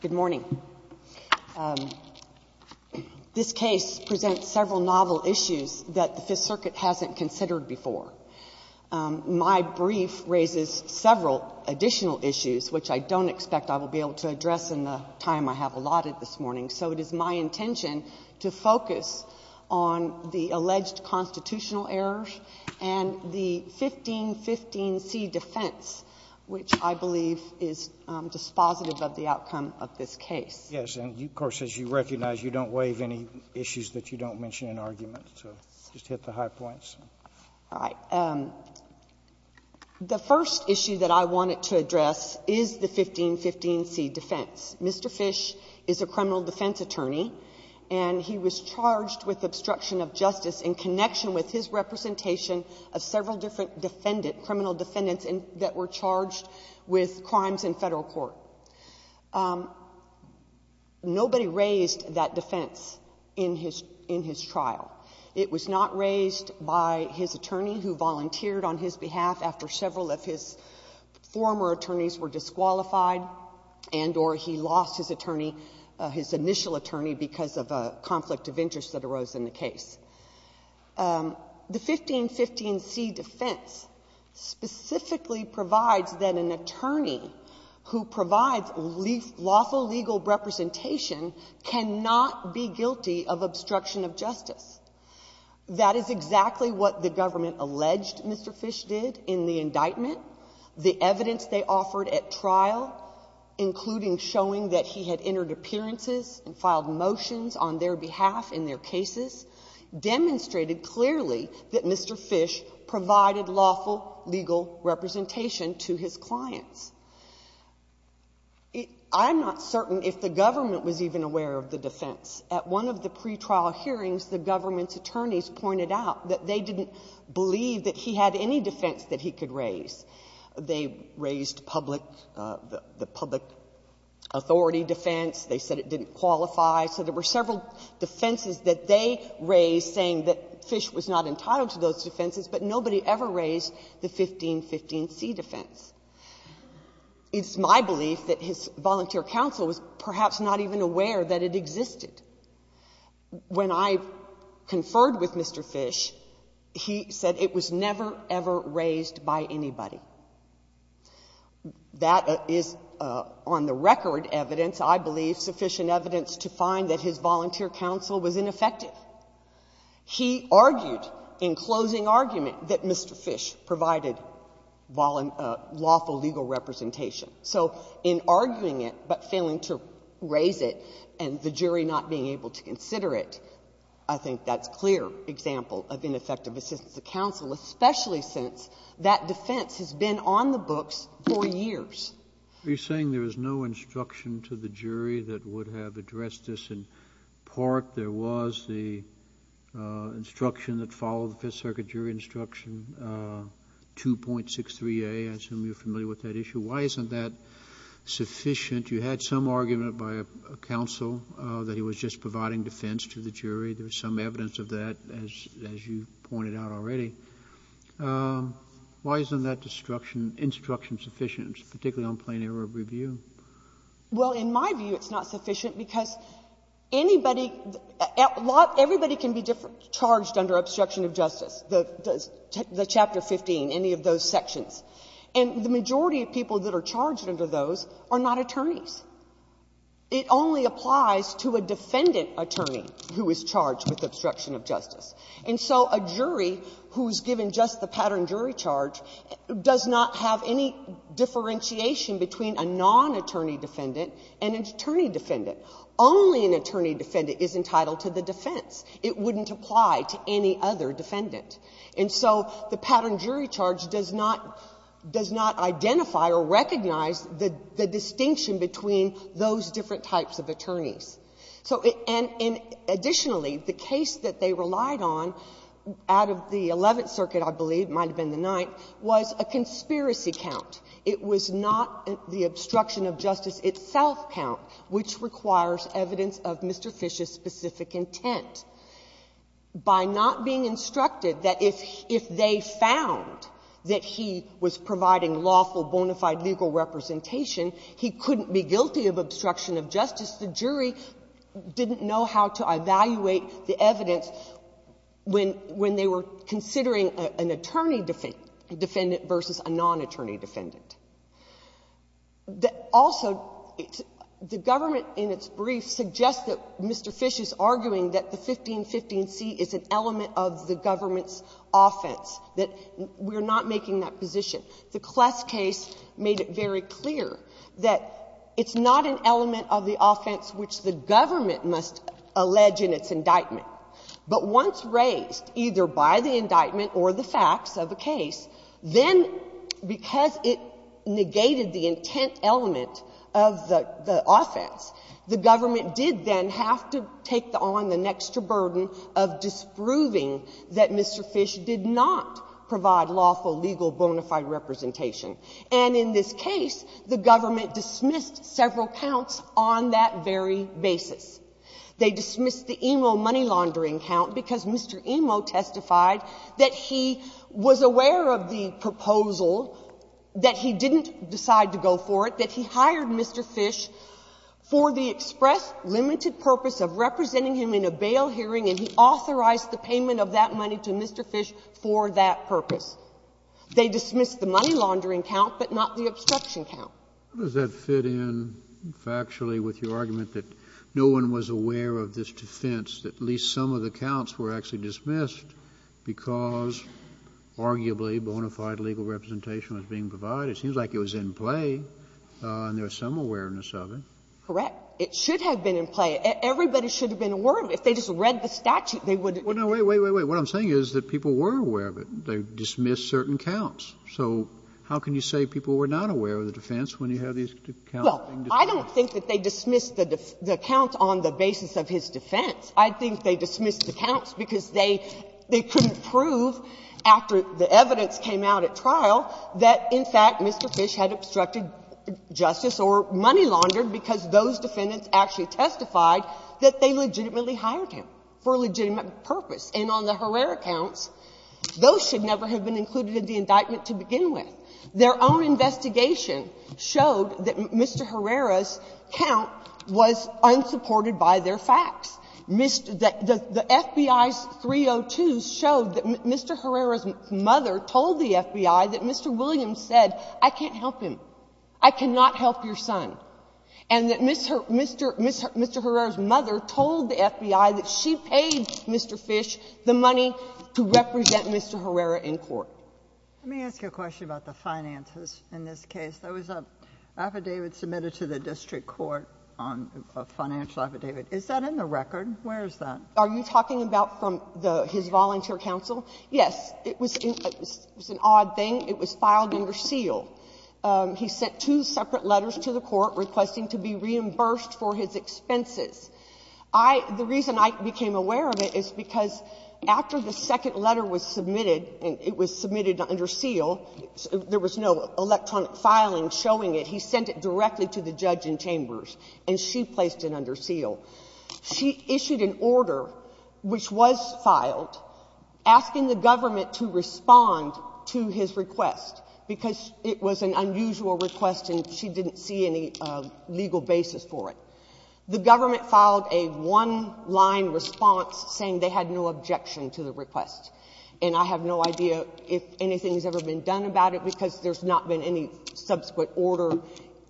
Good morning. This case presents several novel issues that the 5th Circuit hasn't considered before. My brief raises several additional issues, which I don't expect I will be able to address in the time I have allotted this morning. So it is my intention to focus on the alleged constitutional errors and the 1515C defense, which I believe is dispositive of the outcome of this case. Yes. And, of course, as you recognize, you don't waive any issues that you don't mention in argument. So just hit the high points. All right. The first issue that I wanted to address is the 1515C defense. Mr. Fisch is a criminal defense attorney, and he was charged with obstruction of justice in connection with his representation of several different criminal defendants that were charged with crimes in federal court. Nobody raised that defense in his trial. It was not raised by his attorney, who volunteered on his behalf after several of his former attorneys were his initial attorney because of a conflict of interest that arose in the case. The 1515C defense specifically provides that an attorney who provides lawful legal representation cannot be guilty of obstruction of justice. That is exactly what the government alleged Mr. Fisch did in the indictment, the evidence they offered at trial, including showing that he had entered appearances and filed motions on their behalf in their cases, demonstrated clearly that Mr. Fisch provided lawful legal representation to his clients. I'm not certain if the government was even aware of the defense. At one of the pretrial hearings, the government's attorneys pointed out that they didn't believe that he had any They raised public authority defense. They said it didn't qualify. So there were several defenses that they raised saying that Fisch was not entitled to those defenses, but nobody ever raised the 1515C defense. It's my belief that his volunteer counsel was perhaps not even aware that it existed. When I conferred with Mr. Fisch, he said it was never, ever raised by anybody. That is on-the-record evidence, I believe, sufficient evidence to find that his volunteer counsel was ineffective. He argued in closing argument that Mr. Fisch provided lawful legal representation. So in arguing it but failing to raise it and the jury not being able to consider it, I think that's a clear example of ineffective assistance to counsel, especially since that defense has been on the books for years. JUSTICE SCALIA. Are you saying there is no instruction to the jury that would have addressed this in part? There was the instruction that followed the Fifth Circuit jury instruction, 2.63a. I assume you're familiar with that issue. Why isn't that sufficient? You had some argument by a counsel that he was just providing defense to the jury. There's some of that already. Why isn't that instruction sufficient, particularly on plain error MS. WARREN. Well, in my view, it's not sufficient because anybody at law — everybody can be charged under obstruction of justice, the Chapter 15, any of those sections. And the majority of people that are charged under those are not attorneys. It only applies to a defendant attorney who is charged with obstruction of justice. And so a jury who is given just the pattern jury charge does not have any differentiation between a non-attorney defendant and an attorney defendant. Only an attorney defendant is entitled to the defense. It wouldn't apply to any other defendant. And so the pattern jury charge does not identify or recognize the distinction between those different types of attorneys. So — and additionally, the case that they relied on out of the Eleventh Circuit, I believe, it might have been the Ninth, was a conspiracy count. It was not the obstruction of justice itself count, which requires evidence of Mr. Fish's specific intent. By not being instructed that if they found that he was providing lawful, bona fide legal representation, he couldn't be guilty of obstruction of justice, the jury would not be able to evaluate the evidence when they were considering an attorney defendant versus a non-attorney defendant. Also, the government in its brief suggests that Mr. Fish is arguing that the 1515c is an element of the government's offense, that we're not making that position. The Kless case made it very clear that it's not an element of the offense which the government must allege in its indictment. But once raised, either by the indictment or the facts of a case, then because it negated the intent element of the offense, the government did then have to take on the next burden of disproving that Mr. Fish did not provide lawful, legal, bona fide representation. And in this case, the government dismissed several counts on that very basis. They dismissed the Emo money laundering count because Mr. Emo testified that he was aware of the proposal, that he didn't decide to go for it, that he hired Mr. Fish for the express limited purpose of representing him in a bail hearing, and he authorized the payment of that money to Mr. Fish for that purpose. They dismissed the money laundering count, but not the obstruction count. How does that fit in factually with your argument that no one was aware of this defense, that at least some of the counts were actually dismissed because arguably bona fide legal representation was being provided? It seems like it was in play, and there was some awareness of it. Correct. It should have been in play. Everybody should have been aware of it. If they just read the statute, they would have been aware of it. Well, no. Wait, wait, wait, wait. What I'm saying is that people were aware of it. They dismissed certain counts. So how can you say people were not aware of the defense when you have these counts being dismissed? Well, I don't think that they dismissed the count on the basis of his defense. I think they dismissed the counts because they couldn't prove after the evidence came out at trial that, in fact, Mr. Fish had obstructed justice or money laundered because those defendants actually testified that they legitimately hired him for a legitimate purpose. And on the Herrera counts, those should never have been included in the indictment to begin with. Their own investigation showed that Mr. Herrera's count was unsupported by their facts. The FBI's 302s showed that Mr. Herrera's mother told the FBI that Mr. Fish was a fraud. I cannot help him. I cannot help your son. And that Mr. Herrera's mother told the FBI that she paid Mr. Fish the money to represent Mr. Herrera in court. Let me ask you a question about the finances in this case. There was an affidavit submitted to the district court, a financial affidavit. Is that in the record? Where is that? Are you talking about from his volunteer counsel? Yes. It was an odd thing. It was filed under seal. He sent two separate letters to the court requesting to be reimbursed for his expenses. The reason I became aware of it is because after the second letter was submitted, and it was submitted under seal, there was no electronic filing showing it. He sent it directly to the judge in Chambers, and she placed it under seal. She issued an order, which was filed, asking the government to respond to his request because it was an under usual request and she didn't see any legal basis for it. The government filed a one-line response saying they had no objection to the request. And I have no idea if anything has ever been done about it because there's not been any subsequent order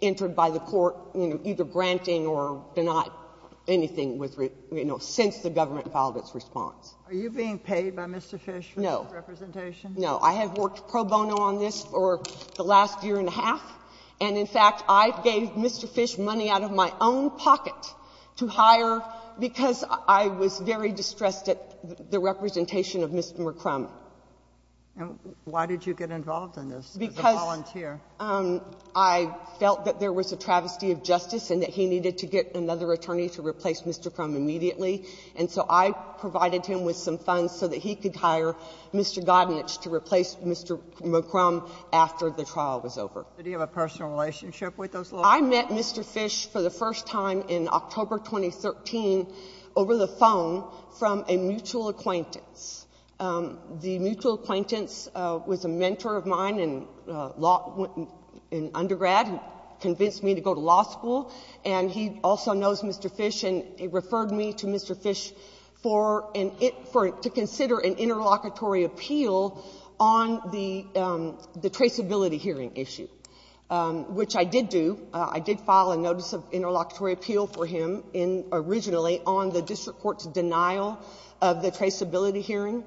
entered by the court either granting or denying anything since the government filed its response. Are you being paid by Mr. Fish for representation? No. I have worked pro bono on this for the last year and a half. And in fact, I gave Mr. Fish money out of my own pocket to hire because I was very distressed at the representation of Mr. McCrum. And why did you get involved in this as a volunteer? Because I felt that there was a travesty of justice and that he needed to get another attorney to replace Mr. Crum immediately. And so I provided him with some funds so that he could hire Mr. Godinich to replace Mr. McCrum after the trial. Did you have a personal relationship with those lawyers? I met Mr. Fish for the first time in October 2013 over the phone from a mutual acquaintance. The mutual acquaintance was a mentor of mine in undergrad who convinced me to go to law school. And he also knows Mr. Fish and referred me to Mr. Fish to consider an interlocutory appeal on the traceability hearing issue, which I did do. I did file a notice of interlocutory appeal for him originally on the district court's denial of the traceability hearing.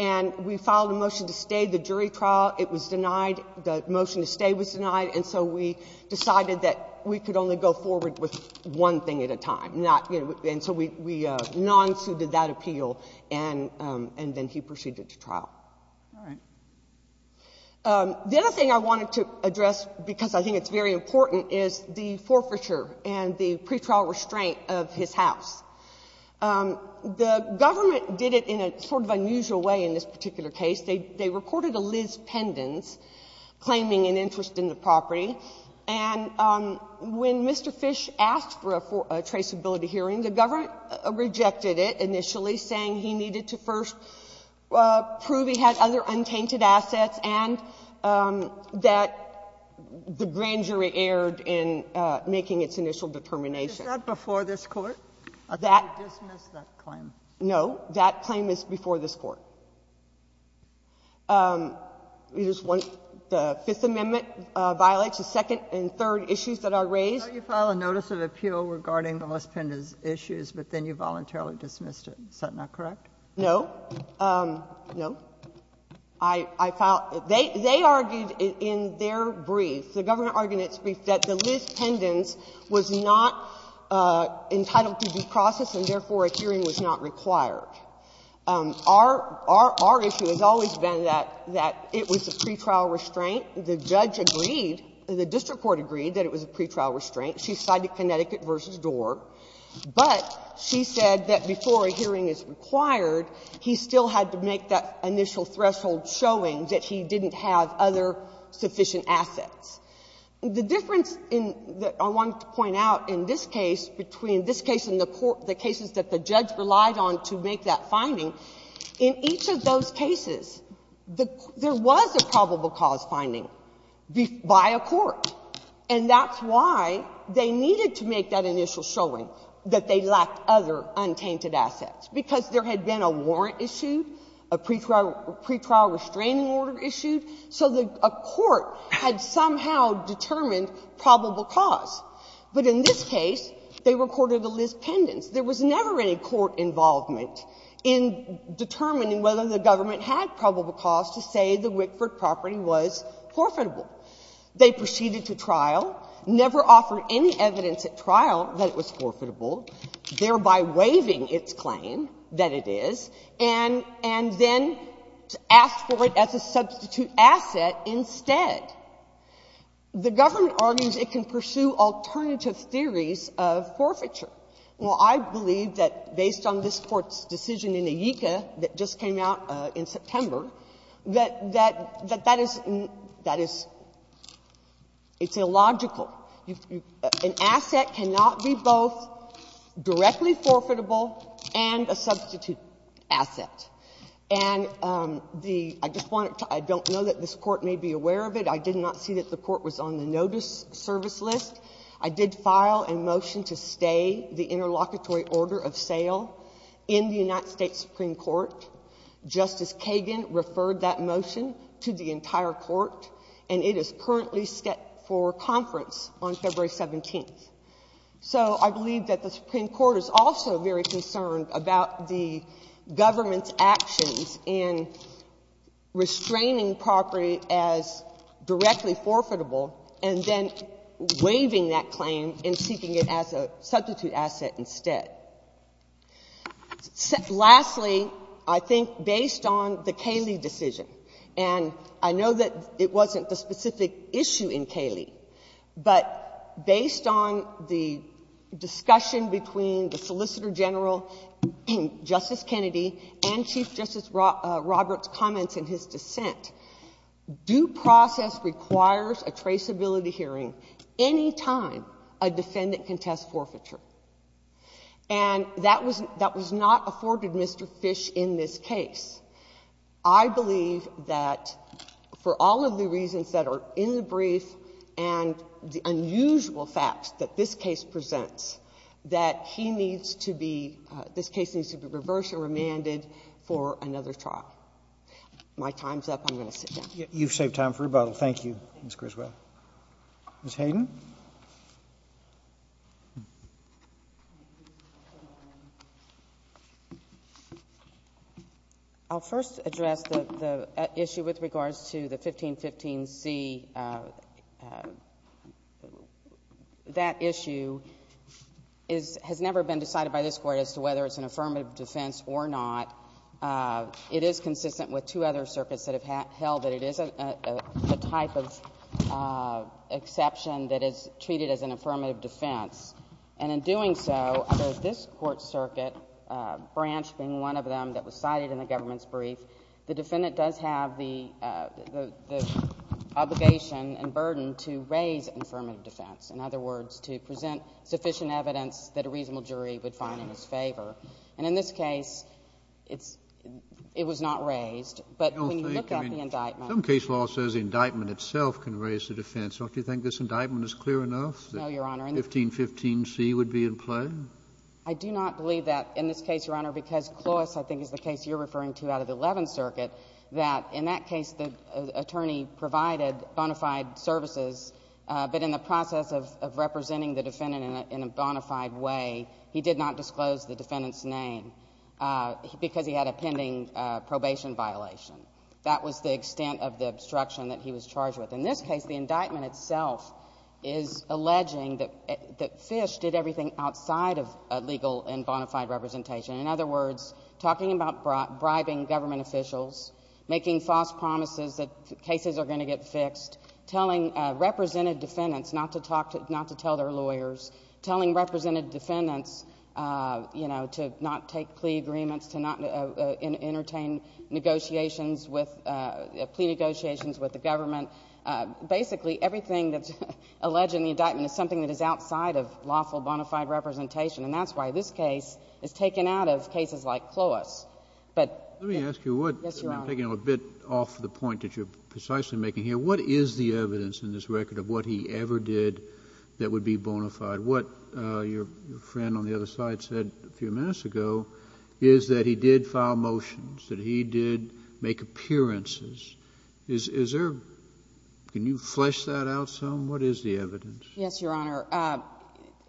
And we filed a motion to stay the jury trial. It was denied. The motion to stay was denied. And so we decided that we could only go forward with one thing at a time. And so we non-sued that appeal, and then he The other thing I wanted to address, because I think it's very important, is the forfeiture and the pretrial restraint of his house. The government did it in a sort of unusual way in this particular case. They reported a Liz Pendens claiming an interest in the property. And when Mr. Fish asked for a traceability hearing, the government rejected it initially saying he needed to first prove he had other untainted assets and that he had other assets, and that the grand jury erred in making its initial determination. Is that before this court? I thought you dismissed that claim. No. That claim is before this court. We just want the Fifth Amendment violates the second and third issues that are raised. So you file a notice of appeal regarding the Liz Pendens issues, but then you voluntarily dismissed it. Is that not correct? No. No. I filed — they argued in their brief, the government argued in its brief, that the Liz Pendens was not entitled to be processed and therefore a hearing was not required. Our issue has always been that it was a pretrial restraint. The judge agreed, the district court agreed that it was a pretrial restraint. She sided Connecticut v. Dorr, but she said that before a hearing is required, he still had to make that initial threshold showing that he didn't have other sufficient assets. The difference in — I wanted to point out in this case, between this case and the court — the cases that the judge relied on to make that finding, in each of those cases, there was a probable cause finding by a court. And that's why they needed to make that initial showing, that they lacked other untainted assets, because there had been a warrant issued, a pretrial restraining order issued, so a court had somehow determined probable cause. But in this case, they recorded a Liz Pendens. There was never any court involvement in determining whether the government had probable cause to say the Wickford property was profitable. They proceeded to trial, never offered any evidence at trial that it was forfeitable, thereby waiving its claim that it is, and then asked for it as a substitute asset instead. The government argues it can pursue alternative theories of forfeiture. Well, I believe that based on this Court's decision in Aegeka that just came out in September, that that is — that an asset cannot be both directly forfeitable and a substitute asset. And the — I just want to — I don't know that this Court may be aware of it. I did not see that the Court was on the notice service list. I did file a motion to stay the interlocutory order of sale in the United States Supreme Court. Justice Kagan referred that motion to the entire Court, and it is currently set for conference on February 17th. So I believe that the Supreme Court is also very concerned about the government's actions in restraining property as directly forfeitable and then waiving that claim and seeking it as a substitute asset instead. Lastly, I think based on the Cayley decision, and I know that it wasn't the specific issue in Cayley, but based on the discussion between the Solicitor General, Justice Kennedy, and Chief Justice Roberts' comments in his dissent, due process requires a traceability hearing any time a defendant can test forfeiture. And that was — that was not afforded Mr. Fish in this case. I believe that for all of the reasons that are in the brief and the unusual facts that this case presents, that he needs to be — this case needs to be reversed or remanded for another trial. My time's up. I'm going to sit down. You've saved time for rebuttal. Thank you, Ms. Griswold. Ms. Hayden? I'll first address the issue with regards to the 1515C. That issue has never been decided by this Court as to whether it's an affirmative defense or not. It is consistent with two other circuits that have held that it is a type of exception that is treated as an affirmative defense. And in doing so, under this Court's circuit, Branch being one of them that was cited in the government's brief, the defendant does have the obligation and burden to raise affirmative defense. In other words, to present sufficient evidence that a reasonable jury would find in his favor. And in this case, it's — it was not raised. But when you look at the indictment — Some case law says the indictment itself can raise the defense. Don't you think this indictment is clear enough — No, Your Honor. — that 1515C would be in play? I do not believe that in this case, Your Honor, because Clois, I think, is the case you're referring to out of the Eleventh Circuit, that in that case the attorney provided bona fide way. He did not disclose the defendant's name because he had a pending probation violation. That was the extent of the obstruction that he was charged with. In this case, the indictment itself is alleging that Fish did everything outside of legal and bona fide representation. In other words, talking about bribing government officials, making false promises that cases are going to get fixed, telling represented defendants not to talk to — not to tell their lawyers, telling represented defendants, you know, to not take plea agreements, to not entertain negotiations with — plea negotiations with the government. Basically, everything that's alleged in the indictment is something that is outside of lawful bona fide representation. And that's why this case is taken out of cases like Clois. But — Let me ask you what — Yes, Your Honor. I'm taking a bit off the point that you're precisely making here. What is the evidence in this record of what he ever did that would be bona fide? What your friend on the other side said a few minutes ago is that he did file motions, that he did make appearances. Is there — can you flesh that out some? What is the evidence? Yes, Your Honor.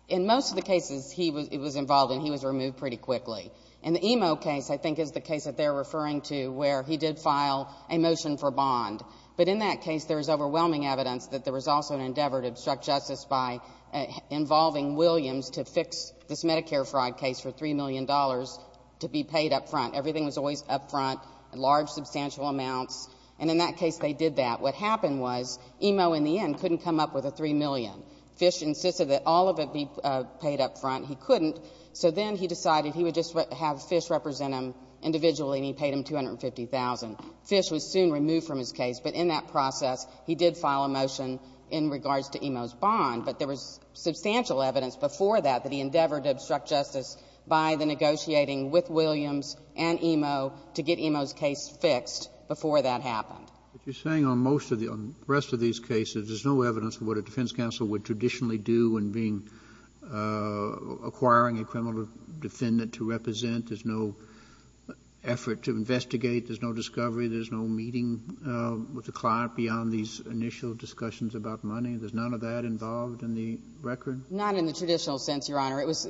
In most of the cases he was involved in, he was removed pretty quickly. In the Emo case, I think, is the case that they're referring to where he did file a endeavor to obstruct justice by involving Williams to fix this Medicare fraud case for $3 million to be paid up front. Everything was always up front in large, substantial amounts. And in that case, they did that. What happened was Emo, in the end, couldn't come up with a $3 million. Fish insisted that all of it be paid up front. He couldn't. So then he decided he would just have Fish represent him individually, and he paid him $2,250,000. Fish was soon removed from his case. But in that process, he did file a motion in regards to Emo's bond. But there was substantial evidence before that that he endeavored to obstruct justice by the negotiating with Williams and Emo to get Emo's case fixed before that happened. But you're saying on most of the — on the rest of these cases, there's no evidence of what a defense counsel would traditionally do when being — acquiring a criminal defendant to investigate, there's no discovery, there's no meeting with the client beyond these initial discussions about money? There's none of that involved in the record? Not in the traditional sense, Your Honor. It was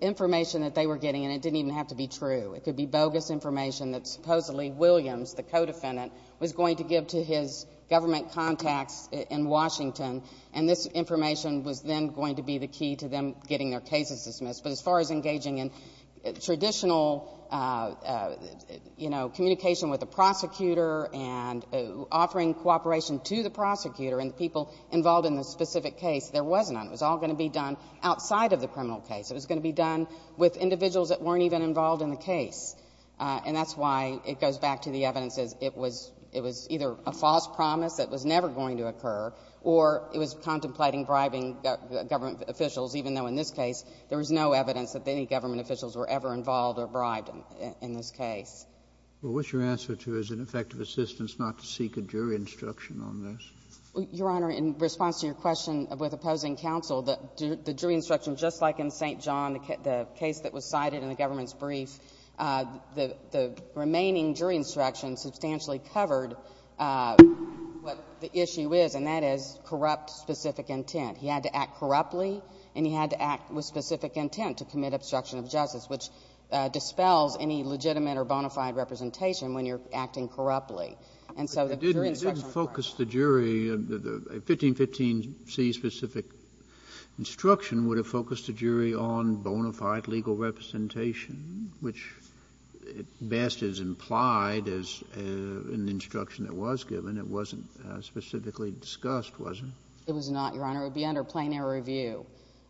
information that they were getting, and it didn't even have to be true. It could be bogus information that supposedly Williams, the co-defendant, was going to give to his government contacts in Washington, and this information was then going to be the key to them getting their cases dismissed. But as far as communication with the prosecutor and offering cooperation to the prosecutor and the people involved in the specific case, there was none. It was all going to be done outside of the criminal case. It was going to be done with individuals that weren't even involved in the case. And that's why it goes back to the evidence as it was either a false promise that was never going to occur, or it was contemplating bribing government officials, even though in this case, there was no evidence that any government officials were ever involved or bribed in this case. Well, what's your answer to, is it effective assistance not to seek a jury instruction on this? Your Honor, in response to your question with opposing counsel, the jury instruction, just like in St. John, the case that was cited in the government's brief, the remaining jury instruction substantially covered what the issue is, and that is corrupt specific intent. He had to act corruptly, and he had to act with specific intent to commit obstruction of justice, which dispels any legitimate or bona fide representation when you're acting corruptly. And so the jury instruction was correct. But it didn't focus the jury. A 1515c specific instruction would have focused the jury on bona fide legal representation, which best is implied as an instruction that was given. It wasn't specifically discussed, was it? It was not, Your Honor. It would be under plain air review.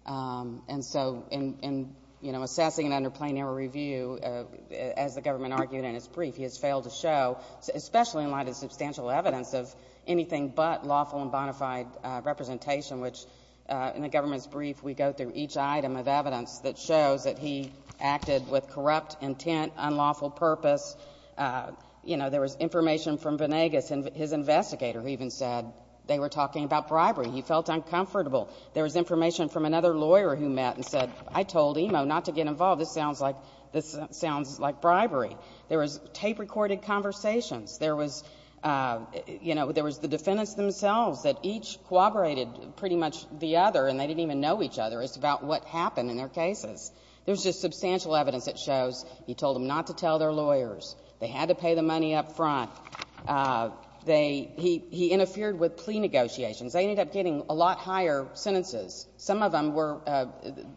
And so in assessing it under plain air review, as the government argued in its brief, he has failed to show, especially in light of substantial evidence of anything but lawful and bona fide representation, which in the government's brief, we go through each item of evidence that shows that he acted with corrupt intent, unlawful purpose. There was information from Venegas, and his investigator even said they were talking about bribery. He felt uncomfortable. There was information from another lawyer who met and said, I told Imo not to get involved. This sounds like bribery. There was tape-recorded conversations. There was the defendants themselves that each corroborated pretty much the other, and they didn't even know each other. It's about what happened in their cases. There's just substantial evidence that shows he told them not to tell their lawyers. They had to pay the money up front. He interfered with plea negotiations. They ended up getting a lot higher sentences. Some of them were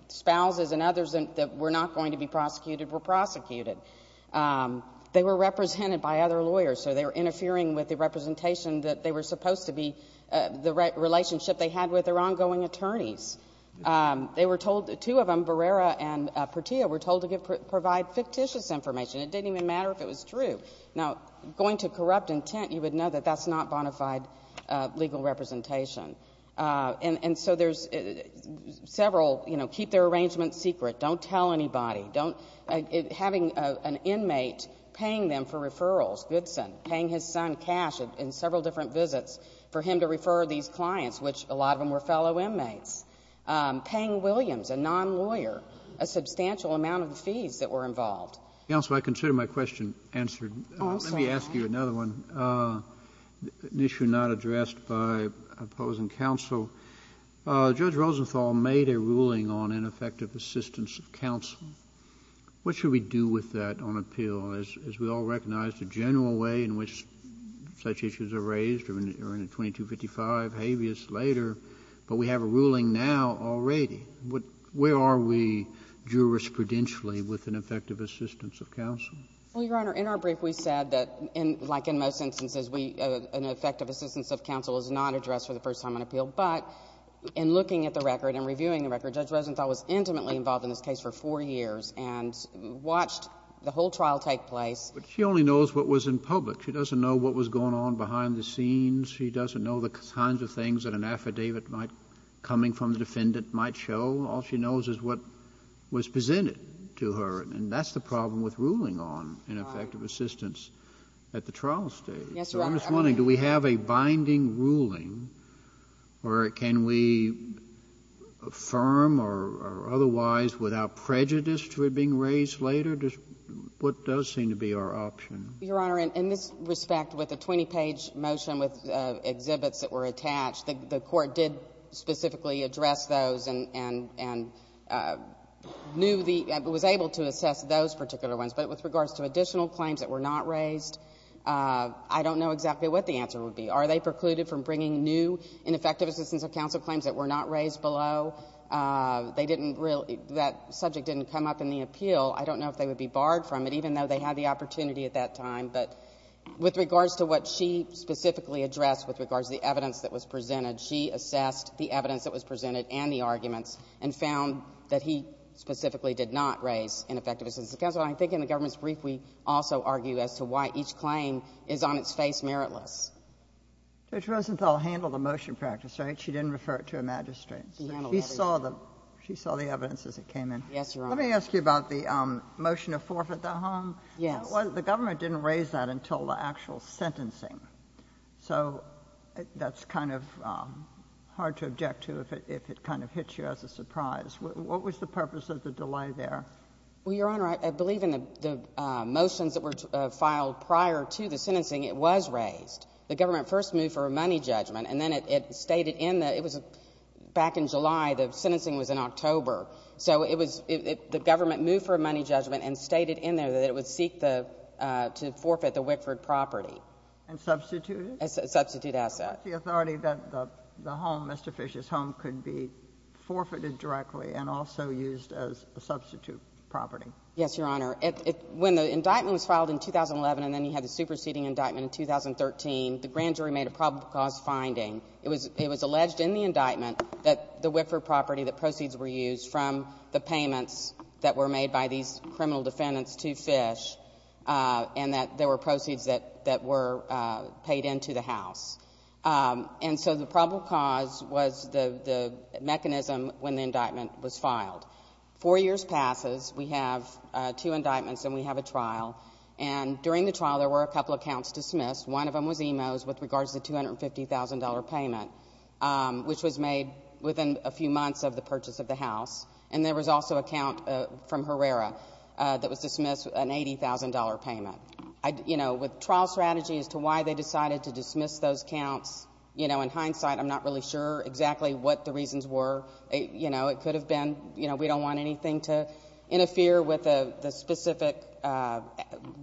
spouses and others that were not going to be prosecuted were prosecuted. They were represented by other lawyers, so they were interfering with the representation that they were supposed to be, the relationship they had with their ongoing attorneys. Two of them, Barrera and Pertillo, were told to provide fictitious information. It didn't even matter if it was true. Now, going to corrupt intent, you would know that that's not bona fide legal representation. So there's several, you know, keep their arrangements secret. Don't tell anybody. Having an inmate paying them for referrals, Goodson, paying his son Cash in several different visits for him to refer these clients, which a lot of them were fellow inmates. Paying Williams, a non-lawyer, a substantial amount of fees that were involved. Counsel, I consider my question answered. Let me ask you another one, an issue not addressed by opposing counsel. Judge Rosenthal made a ruling on ineffective assistance of counsel. What should we do with that on appeal? As we all recognize, the general way in which such issues are raised are in a 2255 habeas later, but we have a ruling now already. Where are we jurisprudentially with an effective assistance of counsel? Well, Your Honor, in our brief we said that, like in most instances, an effective assistance of counsel is not addressed for the first time on appeal, but in looking at the record and reviewing the record, Judge Rosenthal was intimately involved in this case for four years and watched the whole trial take place. But she only knows what was in public. She doesn't know what was going on behind the scenes. She doesn't know the kinds of things that an affidavit might, coming from the counsel, all she knows is what was presented to her. And that's the problem with ruling on ineffective assistance at the trial stage. Yes, Your Honor. So I'm just wondering, do we have a binding ruling, or can we affirm or otherwise, without prejudice to it being raised later? What does seem to be our option? Your Honor, in this respect, with a 20-page motion with exhibits that were attached, the Court did specifically address those and was able to assess those particular ones. But with regards to additional claims that were not raised, I don't know exactly what the answer would be. Are they precluded from bringing new ineffective assistance of counsel claims that were not raised below? That subject didn't come up in the appeal. I don't know if they would be barred from it, even though they had the opportunity at that time. But with regards to what she specifically addressed, with regards to the evidence that was presented, she assessed the evidence that was presented and the arguments and found that he specifically did not raise ineffective assistance of counsel. And I think in the government's brief, we also argue as to why each claim is on its face meritless. Judge Rosenthal handled the motion practice, right? She didn't refer it to a magistrate. She handled everything. She saw the evidence as it came in. Yes, Your Honor. Let me ask you about the motion to forfeit the home. Yes. The government didn't raise that until the actual sentencing. So that's kind of hard to object to if it kind of hits you as a surprise. What was the purpose of the delay there? Well, Your Honor, I believe in the motions that were filed prior to the sentencing, it was raised. The government first moved for a money judgment, and then it stated in the — it was back in July. The sentencing was in October. So it was — the government moved for a money judgment and stated in there that it would seek to forfeit the Wickford property. And substitute it? Substitute asset. The authority that the home, Mr. Fisher's home, could be forfeited directly and also used as a substitute property. Yes, Your Honor. When the indictment was filed in 2011 and then you had the superseding indictment in 2013, the grand jury made a probable cause finding. It was alleged in the indictment that the Wickford property, the proceeds were used from the payments that were made by these criminal defendants to Fish and that there were proceeds that were paid into the house. And so the probable cause was the mechanism when the indictment was filed. Four years passes. We have two indictments and we have a trial. And during the trial, there were a couple of counts dismissed. One of them was EMOS with regards to the $250,000 payment, which was made within a few months of the purchase of the house. And there was also a count from Herrera that was dismissed, an $80,000 payment. You know, with trial strategy as to why they decided to dismiss those counts, you know, in hindsight, I'm not really sure exactly what the reasons were. You know, it could have been, you know, we don't want anything to interfere with the specific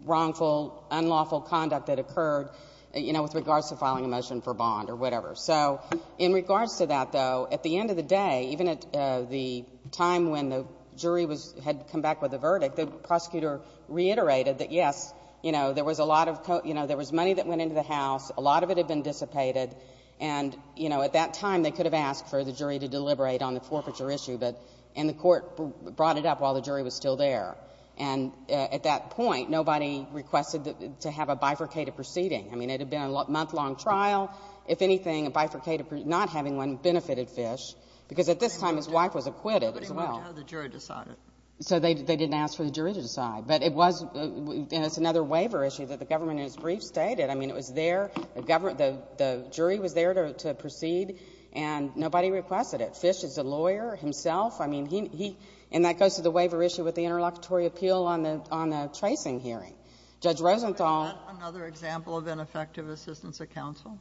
wrongful unlawful conduct that occurred, you know, with regards to filing a motion for bond or whatever. So in regards to that, though, at the end of the day, even at the time when the jury had come back with the verdict, the prosecutor reiterated that, yes, you know, there was a lot of, you know, there was money that went into the house. A lot of it had been dissipated. And, you know, at that time, they could have asked for the jury to deliberate on the forfeiture issue, but—and the court brought it up while the jury was still there. And at that point, nobody requested to have a bifurcated proceeding. I mean, it had been a month-long trial. If anything, a bifurcated—not having one benefited Fish, because at this time his wife was acquitted as well. Nobody wanted to have the jury decide it. So they didn't ask for the jury to decide. But it was—and it's another waiver issue that the government in its brief stated. I mean, it was there. The government—the jury was there to proceed, and nobody requested it. Fish is a lawyer himself. I mean, he—and that goes to the waiver issue with the interlocutory appeal on the tracing hearing. Judge Rosenthal— Is that another example of ineffective assistance of counsel?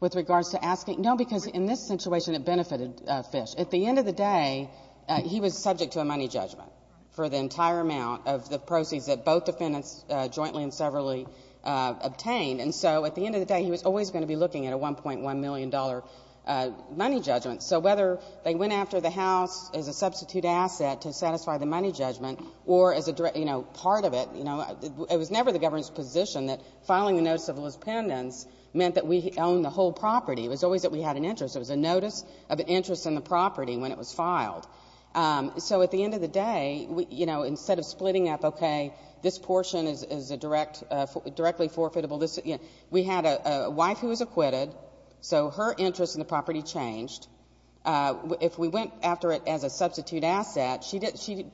With regards to asking—no, because in this situation it benefited Fish. At the end of the day, he was subject to a money judgment for the entire amount of the proceeds that both defendants jointly and severally obtained. And so at the end of the day, he was always going to be looking at a $1.1 million money judgment. So whether they went after the House as a substitute asset to satisfy the money judgment or as a direct—you know, part of it—you know, it was never the government's position that filing a notice of lispendence meant that we own the whole property. It was always that we had an interest. It was a notice of interest in the property when it was filed. So at the end of the day, you know, instead of splitting up, okay, this portion is a direct—directly forfeitable, this—you know, we had a wife who was acquitted, so her interest in the property changed. If we went after it as a substitute asset, she—even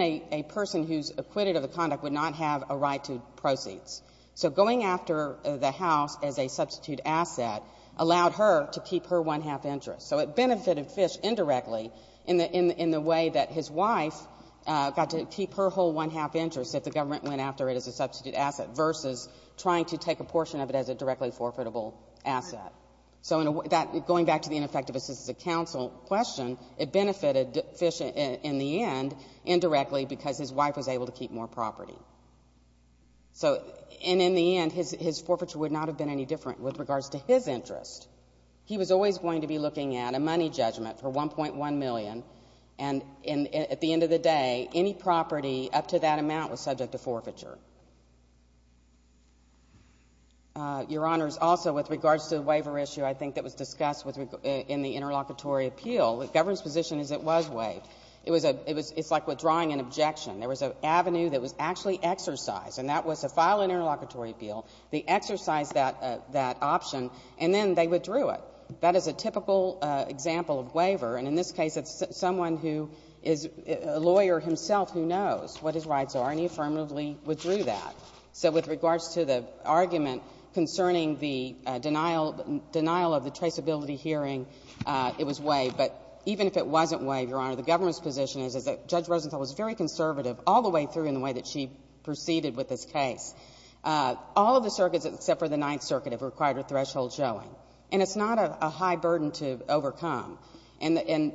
a person who's acquitted of the conduct would not have a right to proceeds. So going after the House as a substitute asset allowed her to keep her one-half interest. So it benefited Fish indirectly in the way that his wife got to keep her whole one-half interest if the government went after it as a substitute asset versus trying to take a So in a—that—going back to the ineffective assistance of counsel question, it benefited Fish in the end indirectly because his wife was able to keep more property. So—and in the end, his forfeiture would not have been any different with regards to his interest. He was always going to be looking at a money judgment for $1.1 million, and at the end of the day, any property up to that amount was subject to forfeiture. Your Honors, also with regards to the waiver issue, I think that was discussed in the interlocutory appeal. The government's position is it was waived. It was a—it's like withdrawing an objection. There was an avenue that was actually exercised, and that was to file an interlocutory appeal. They exercised that option, and then they withdrew it. That is a typical example of waiver, and in this case, it's someone who is a lawyer himself who knows what his rights are, and he affirmatively withdrew that. So with regards to the argument concerning the denial—denial of the traceability hearing, it was waived. But even if it wasn't waived, Your Honor, the government's position is that Judge Rosenthal was very conservative all the way through in the way that she proceeded with this case. All of the circuits except for the Ninth Circuit have required a threshold showing, and it's not a high burden to overcome. And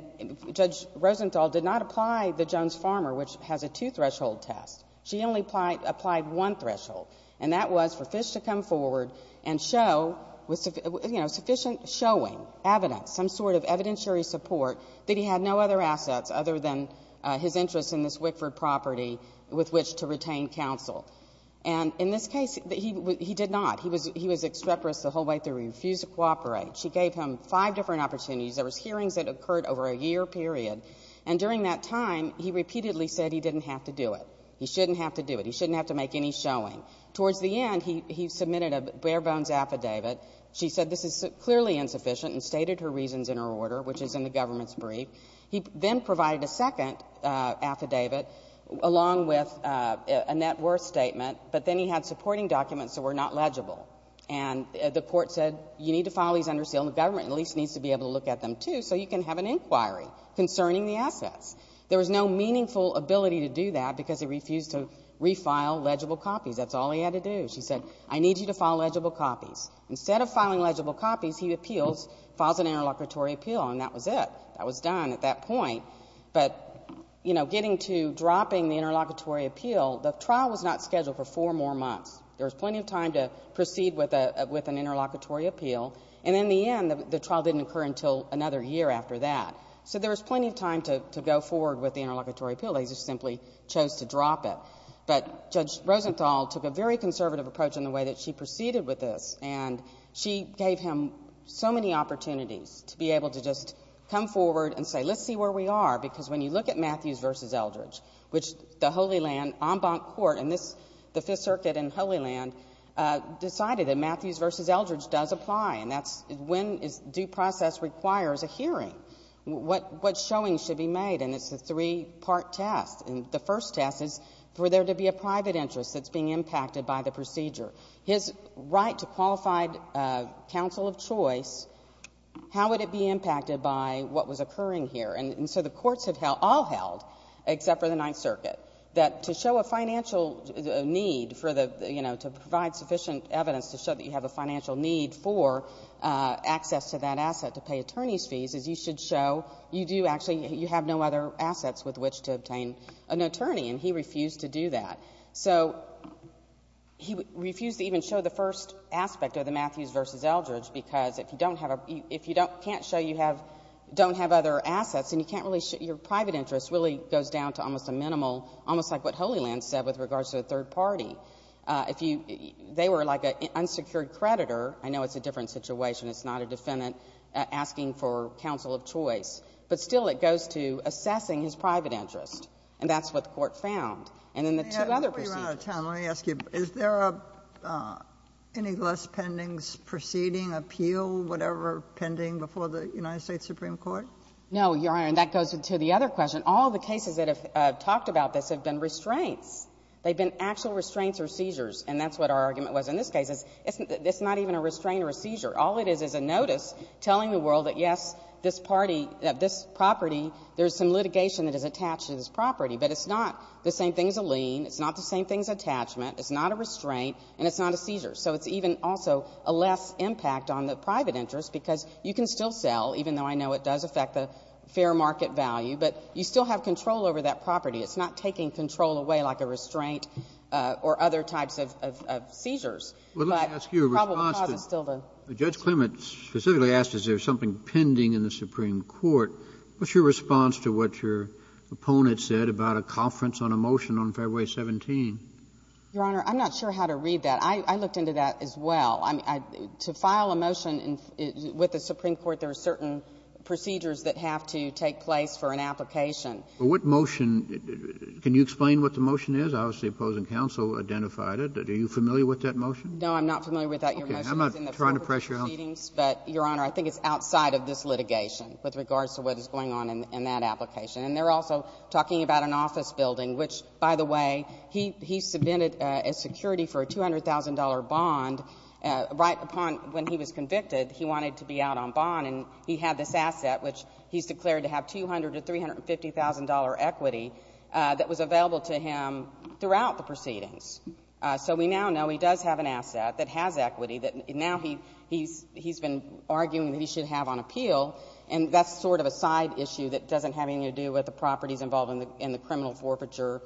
Judge Rosenthal did not apply the Jones-Farmer, which has a two-threshold test. She only applied one threshold, and that was for Fish to come forward and show, you know, sufficient showing, evidence, some sort of evidentiary support that he had no other assets other than his interest in this Wickford property with which to retain counsel. And in this case, he did not. He was extreporous the whole way through. He refused to cooperate. She gave him five different opportunities. There was hearings that occurred over a year period, and during that time, he repeatedly said he didn't have to do it. He shouldn't have to do it. He shouldn't have to make any showing. Towards the end, he submitted a bare-bones affidavit. She said this is clearly insufficient and stated her reasons in her order, which is in the government's brief. He then provided a second affidavit along with a net worth statement, but then he had supporting documents that were not legible. And the court said, you need to file these under seal, and the government at least needs to be able to look at them, too, so you can have an inquiry concerning the assets. There was no meaningful ability to do that because he refused to refile legible copies. That's all he had to do. She said, I need you to file legible copies. Instead of filing legible copies, he appeals, files an interlocutory appeal, and that was it. That was done at that point. But, you know, getting to dropping the interlocutory appeal, the trial was not scheduled for four more months. There was plenty of time to proceed with an interlocutory appeal, and in the end, the trial didn't occur until another year after that. So there was plenty of time to go forward with the interlocutory appeal. They just simply chose to drop it. But Judge Rosenthal took a very conservative approach in the way that she proceeded with this, and she gave him so many opportunities to be able to just come forward and say, let's see where we are, because when you look at Matthews v. Eldridge, which the Holy Land and the Fifth Circuit in Holy Land decided that Matthews v. Eldridge does apply, and that's when due process requires a hearing. What showing should be made? And it's a three-part test. And the first test is for there to be a private interest that's being impacted by the procedure. His right to qualified counsel of choice, how would it be impacted by what was occurring here? And so the courts have all held, except for the Ninth Circuit, that to show a financial need for the, you know, to provide sufficient evidence to show that you have a financial need for access to that asset to pay attorney's fees, is you should show you do actually, you have no other assets with which to obtain an attorney, and he refused to do that. So he refused to even show the first aspect of the Matthews v. Eldridge, because if you don't, can't show you have, don't have other assets, and you can't really show, your private interest really goes down to almost a minimal, almost like what Holy Land said with regards to the third party. If you, they were like an unsecured creditor. I know it's a different situation. It's not a defendant asking for counsel of choice. But still it goes to assessing his private interest. And that's what the Court found. And then the two other procedures. No, Your Honor, and that goes to the other question. All the cases that have talked about this have been restraints. They've been actual restraints or seizures. And that's what our argument was in this case. It's not even a restraint or a seizure. All it is is a notice telling the world that yes, this party, that this property, there's some litigation that is attached to this property. But it's not the same thing as a lien. It's not the same thing as attachment. It's not a restraint. And it's not a seizure. So it's even also a less impact on the private interest because you can still sell, even though I know it does affect the fair market value. But you still have control over that property. It's not taking control away like a restraint or other types of seizures. But the probable cause is still the seizure. Judge Clement specifically asked is there something pending in the Supreme Court. What's your response to what your opponent said about a conference on a motion on February 17? Your Honor, I'm not sure how to read that. But I looked into that as well. To file a motion with the Supreme Court, there are certain procedures that have to take place for an application. What motion? Can you explain what the motion is? Obviously, the opposing counsel identified it. Are you familiar with that motion? No, I'm not familiar with that. I'm not trying to press your honor. But, Your Honor, I think it's outside of this litigation with regards to what is going on in that application. And they're also talking about an office building, which, by the way, he submitted a security for a $200,000 bond right upon when he was convicted. He wanted to be out on bond. And he had this asset, which he's declared to have $200,000 to $350,000 equity that was available to him throughout the proceedings. So we now know he does have an asset that has equity that now he's been arguing that he should have on appeal. And that's sort of a side issue that doesn't have anything to do with the properties involved in the criminal forfeiture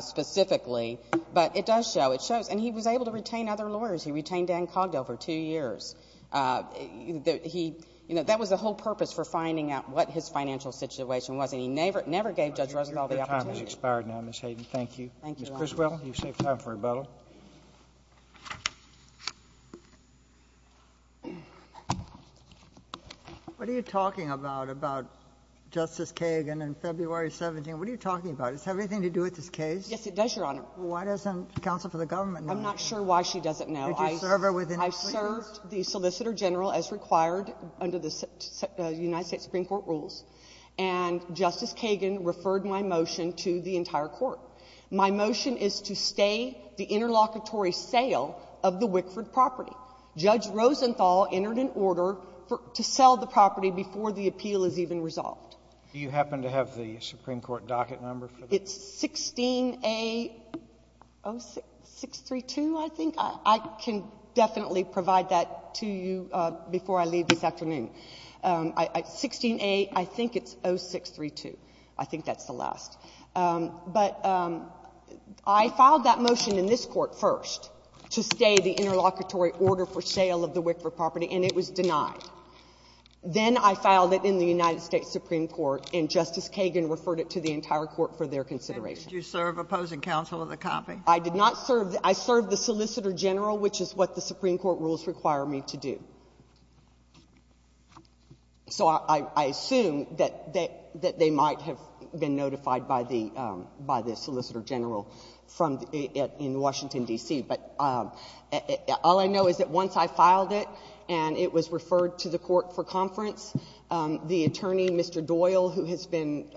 specifically. But it does show. It shows. And he was able to retain other lawyers. He retained Dan Cogdell for two years. That was the whole purpose for finding out what his financial situation was. And he never gave Judge Roosevelt the opportunity. Your time has expired now, Ms. Hayden. Thank you. Thank you, Your Honor. Ms. Criswell, you've saved time for rebuttal. What are you talking about, about Justice Kagan and February 17th? What are you talking about? Does it have anything to do with this case? Yes, it does, Your Honor. Why doesn't counsel for the government know? I'm not sure why she doesn't know. Did you serve her within three years? I served the Solicitor General as required under the United States Supreme Court rules. And Justice Kagan referred my motion to the entire court. My motion is to stay the interlocutory sale of the Wickford property. Judge Rosenthal entered an order to sell the property before the appeal is even resolved. Do you happen to have the Supreme Court docket number for this? It's 16A0632, I think. I can definitely provide that to you before I leave this afternoon. 16A, I think it's 0632. I think that's the last. But I filed that motion in this court first to stay the interlocutory order for sale of the Wickford property, and it was denied. Then I filed it in the United States Supreme Court, and Justice Kagan referred it to the entire court for their consideration. Did you serve opposing counsel in the copy? I did not serve. I served the Solicitor General, which is what the Supreme Court rules require me to do. So I assume that they might have been notified by the Solicitor General in Washington, D.C. But all I know is that once I filed it, and it was referred to the court for conference, the attorney, Mr. Doyle, who has been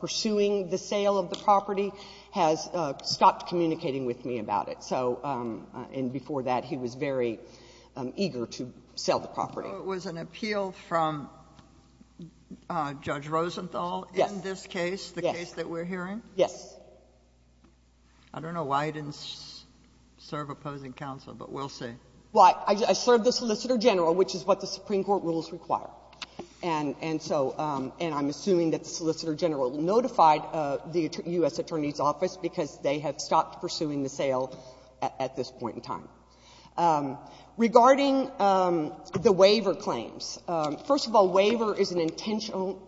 pursuing the sale of the property, has stopped communicating with me about it. And before that, he was very eager to sell the property. So it was an appeal from Judge Rosenthal in this case, the case that we're hearing? Yes. I don't know why I didn't serve opposing counsel, but we'll see. Well, I served the Solicitor General, which is what the Supreme Court rules require. And so — and I'm assuming that the Solicitor General notified the U.S. Attorney's Office because they have stopped pursuing the sale at this point in time. Regarding the waiver claims, first of all, waiver is an intentional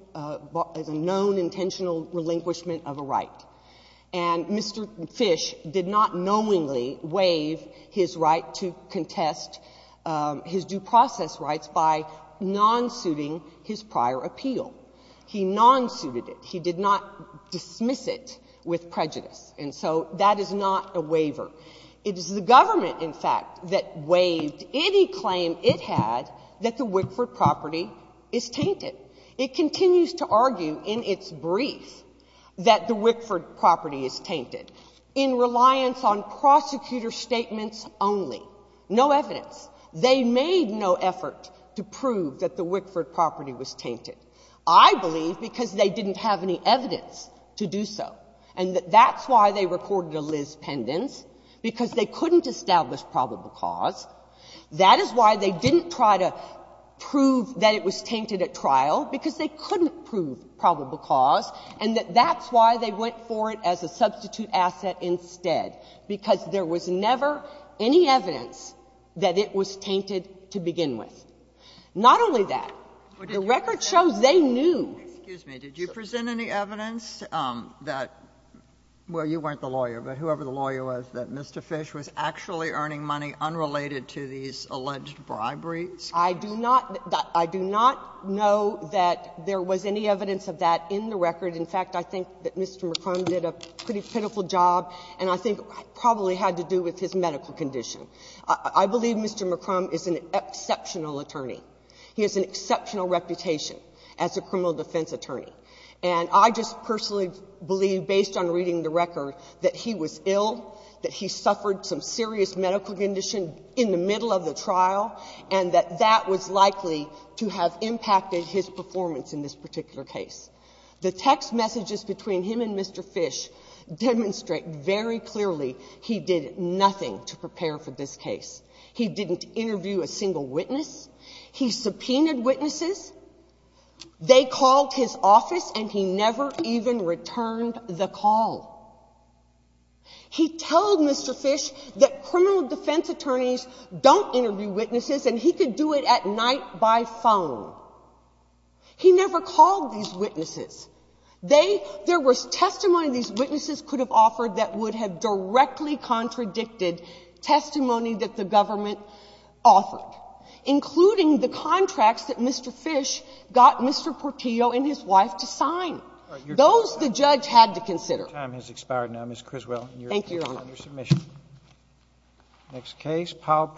— is a known intentional relinquishment of a right. And Mr. Fish did not knowingly waive his right to contest his due process rights by non-suiting his prior appeal. He non-suited it. He did not dismiss it with prejudice. And so that is not a waiver. It is the government, in fact, that waived any claim it had that the Wickford property is tainted. It continues to argue in its brief that the Wickford property is tainted in reliance on prosecutor statements only. No evidence. They made no effort to prove that the Wickford property was tainted. I believe because they didn't have any evidence to do so. And that's why they recorded a Liz Pendence, because they couldn't establish probable cause. That is why they didn't try to prove that it was tainted at trial, because they couldn't prove probable cause, and that that's why they went for it as a substitute asset instead, because there was never any evidence that it was tainted to begin with. Not only that, the record shows they knew. Excuse me. Did you present any evidence that — well, you weren't the lawyer, but whoever the lawyer was, that Mr. Fish was actually earning money unrelated to these alleged briberies? I do not — I do not know that there was any evidence of that in the record. In fact, I think that Mr. McCrumb did a pretty pitiful job, and I think it probably had to do with his medical condition. I believe Mr. McCrumb is an exceptional attorney. He has an exceptional reputation as a criminal defense attorney. And I just personally believe, based on reading the record, that he was ill, that he suffered some serious medical condition in the middle of the trial, and that that was likely to have impacted his performance in this particular case. The text messages between him and Mr. Fish demonstrate very clearly he did nothing to prepare for this case. He didn't interview a single witness. He subpoenaed witnesses. They called his office, and he never even returned the call. He told Mr. Fish that criminal defense attorneys don't interview witnesses, and he could do it at night by phone. He never called these witnesses. They — there was testimony these witnesses could have offered that would have directly contradicted testimony that the government offered, including the testimony that Mr. Fish got Mr. Portillo and his wife to sign. Those the judge had to consider. The time has expired now. Ms. Criswell, your case is under submission. Thank you, Your Honor. Next case, Powell v. McCrumb.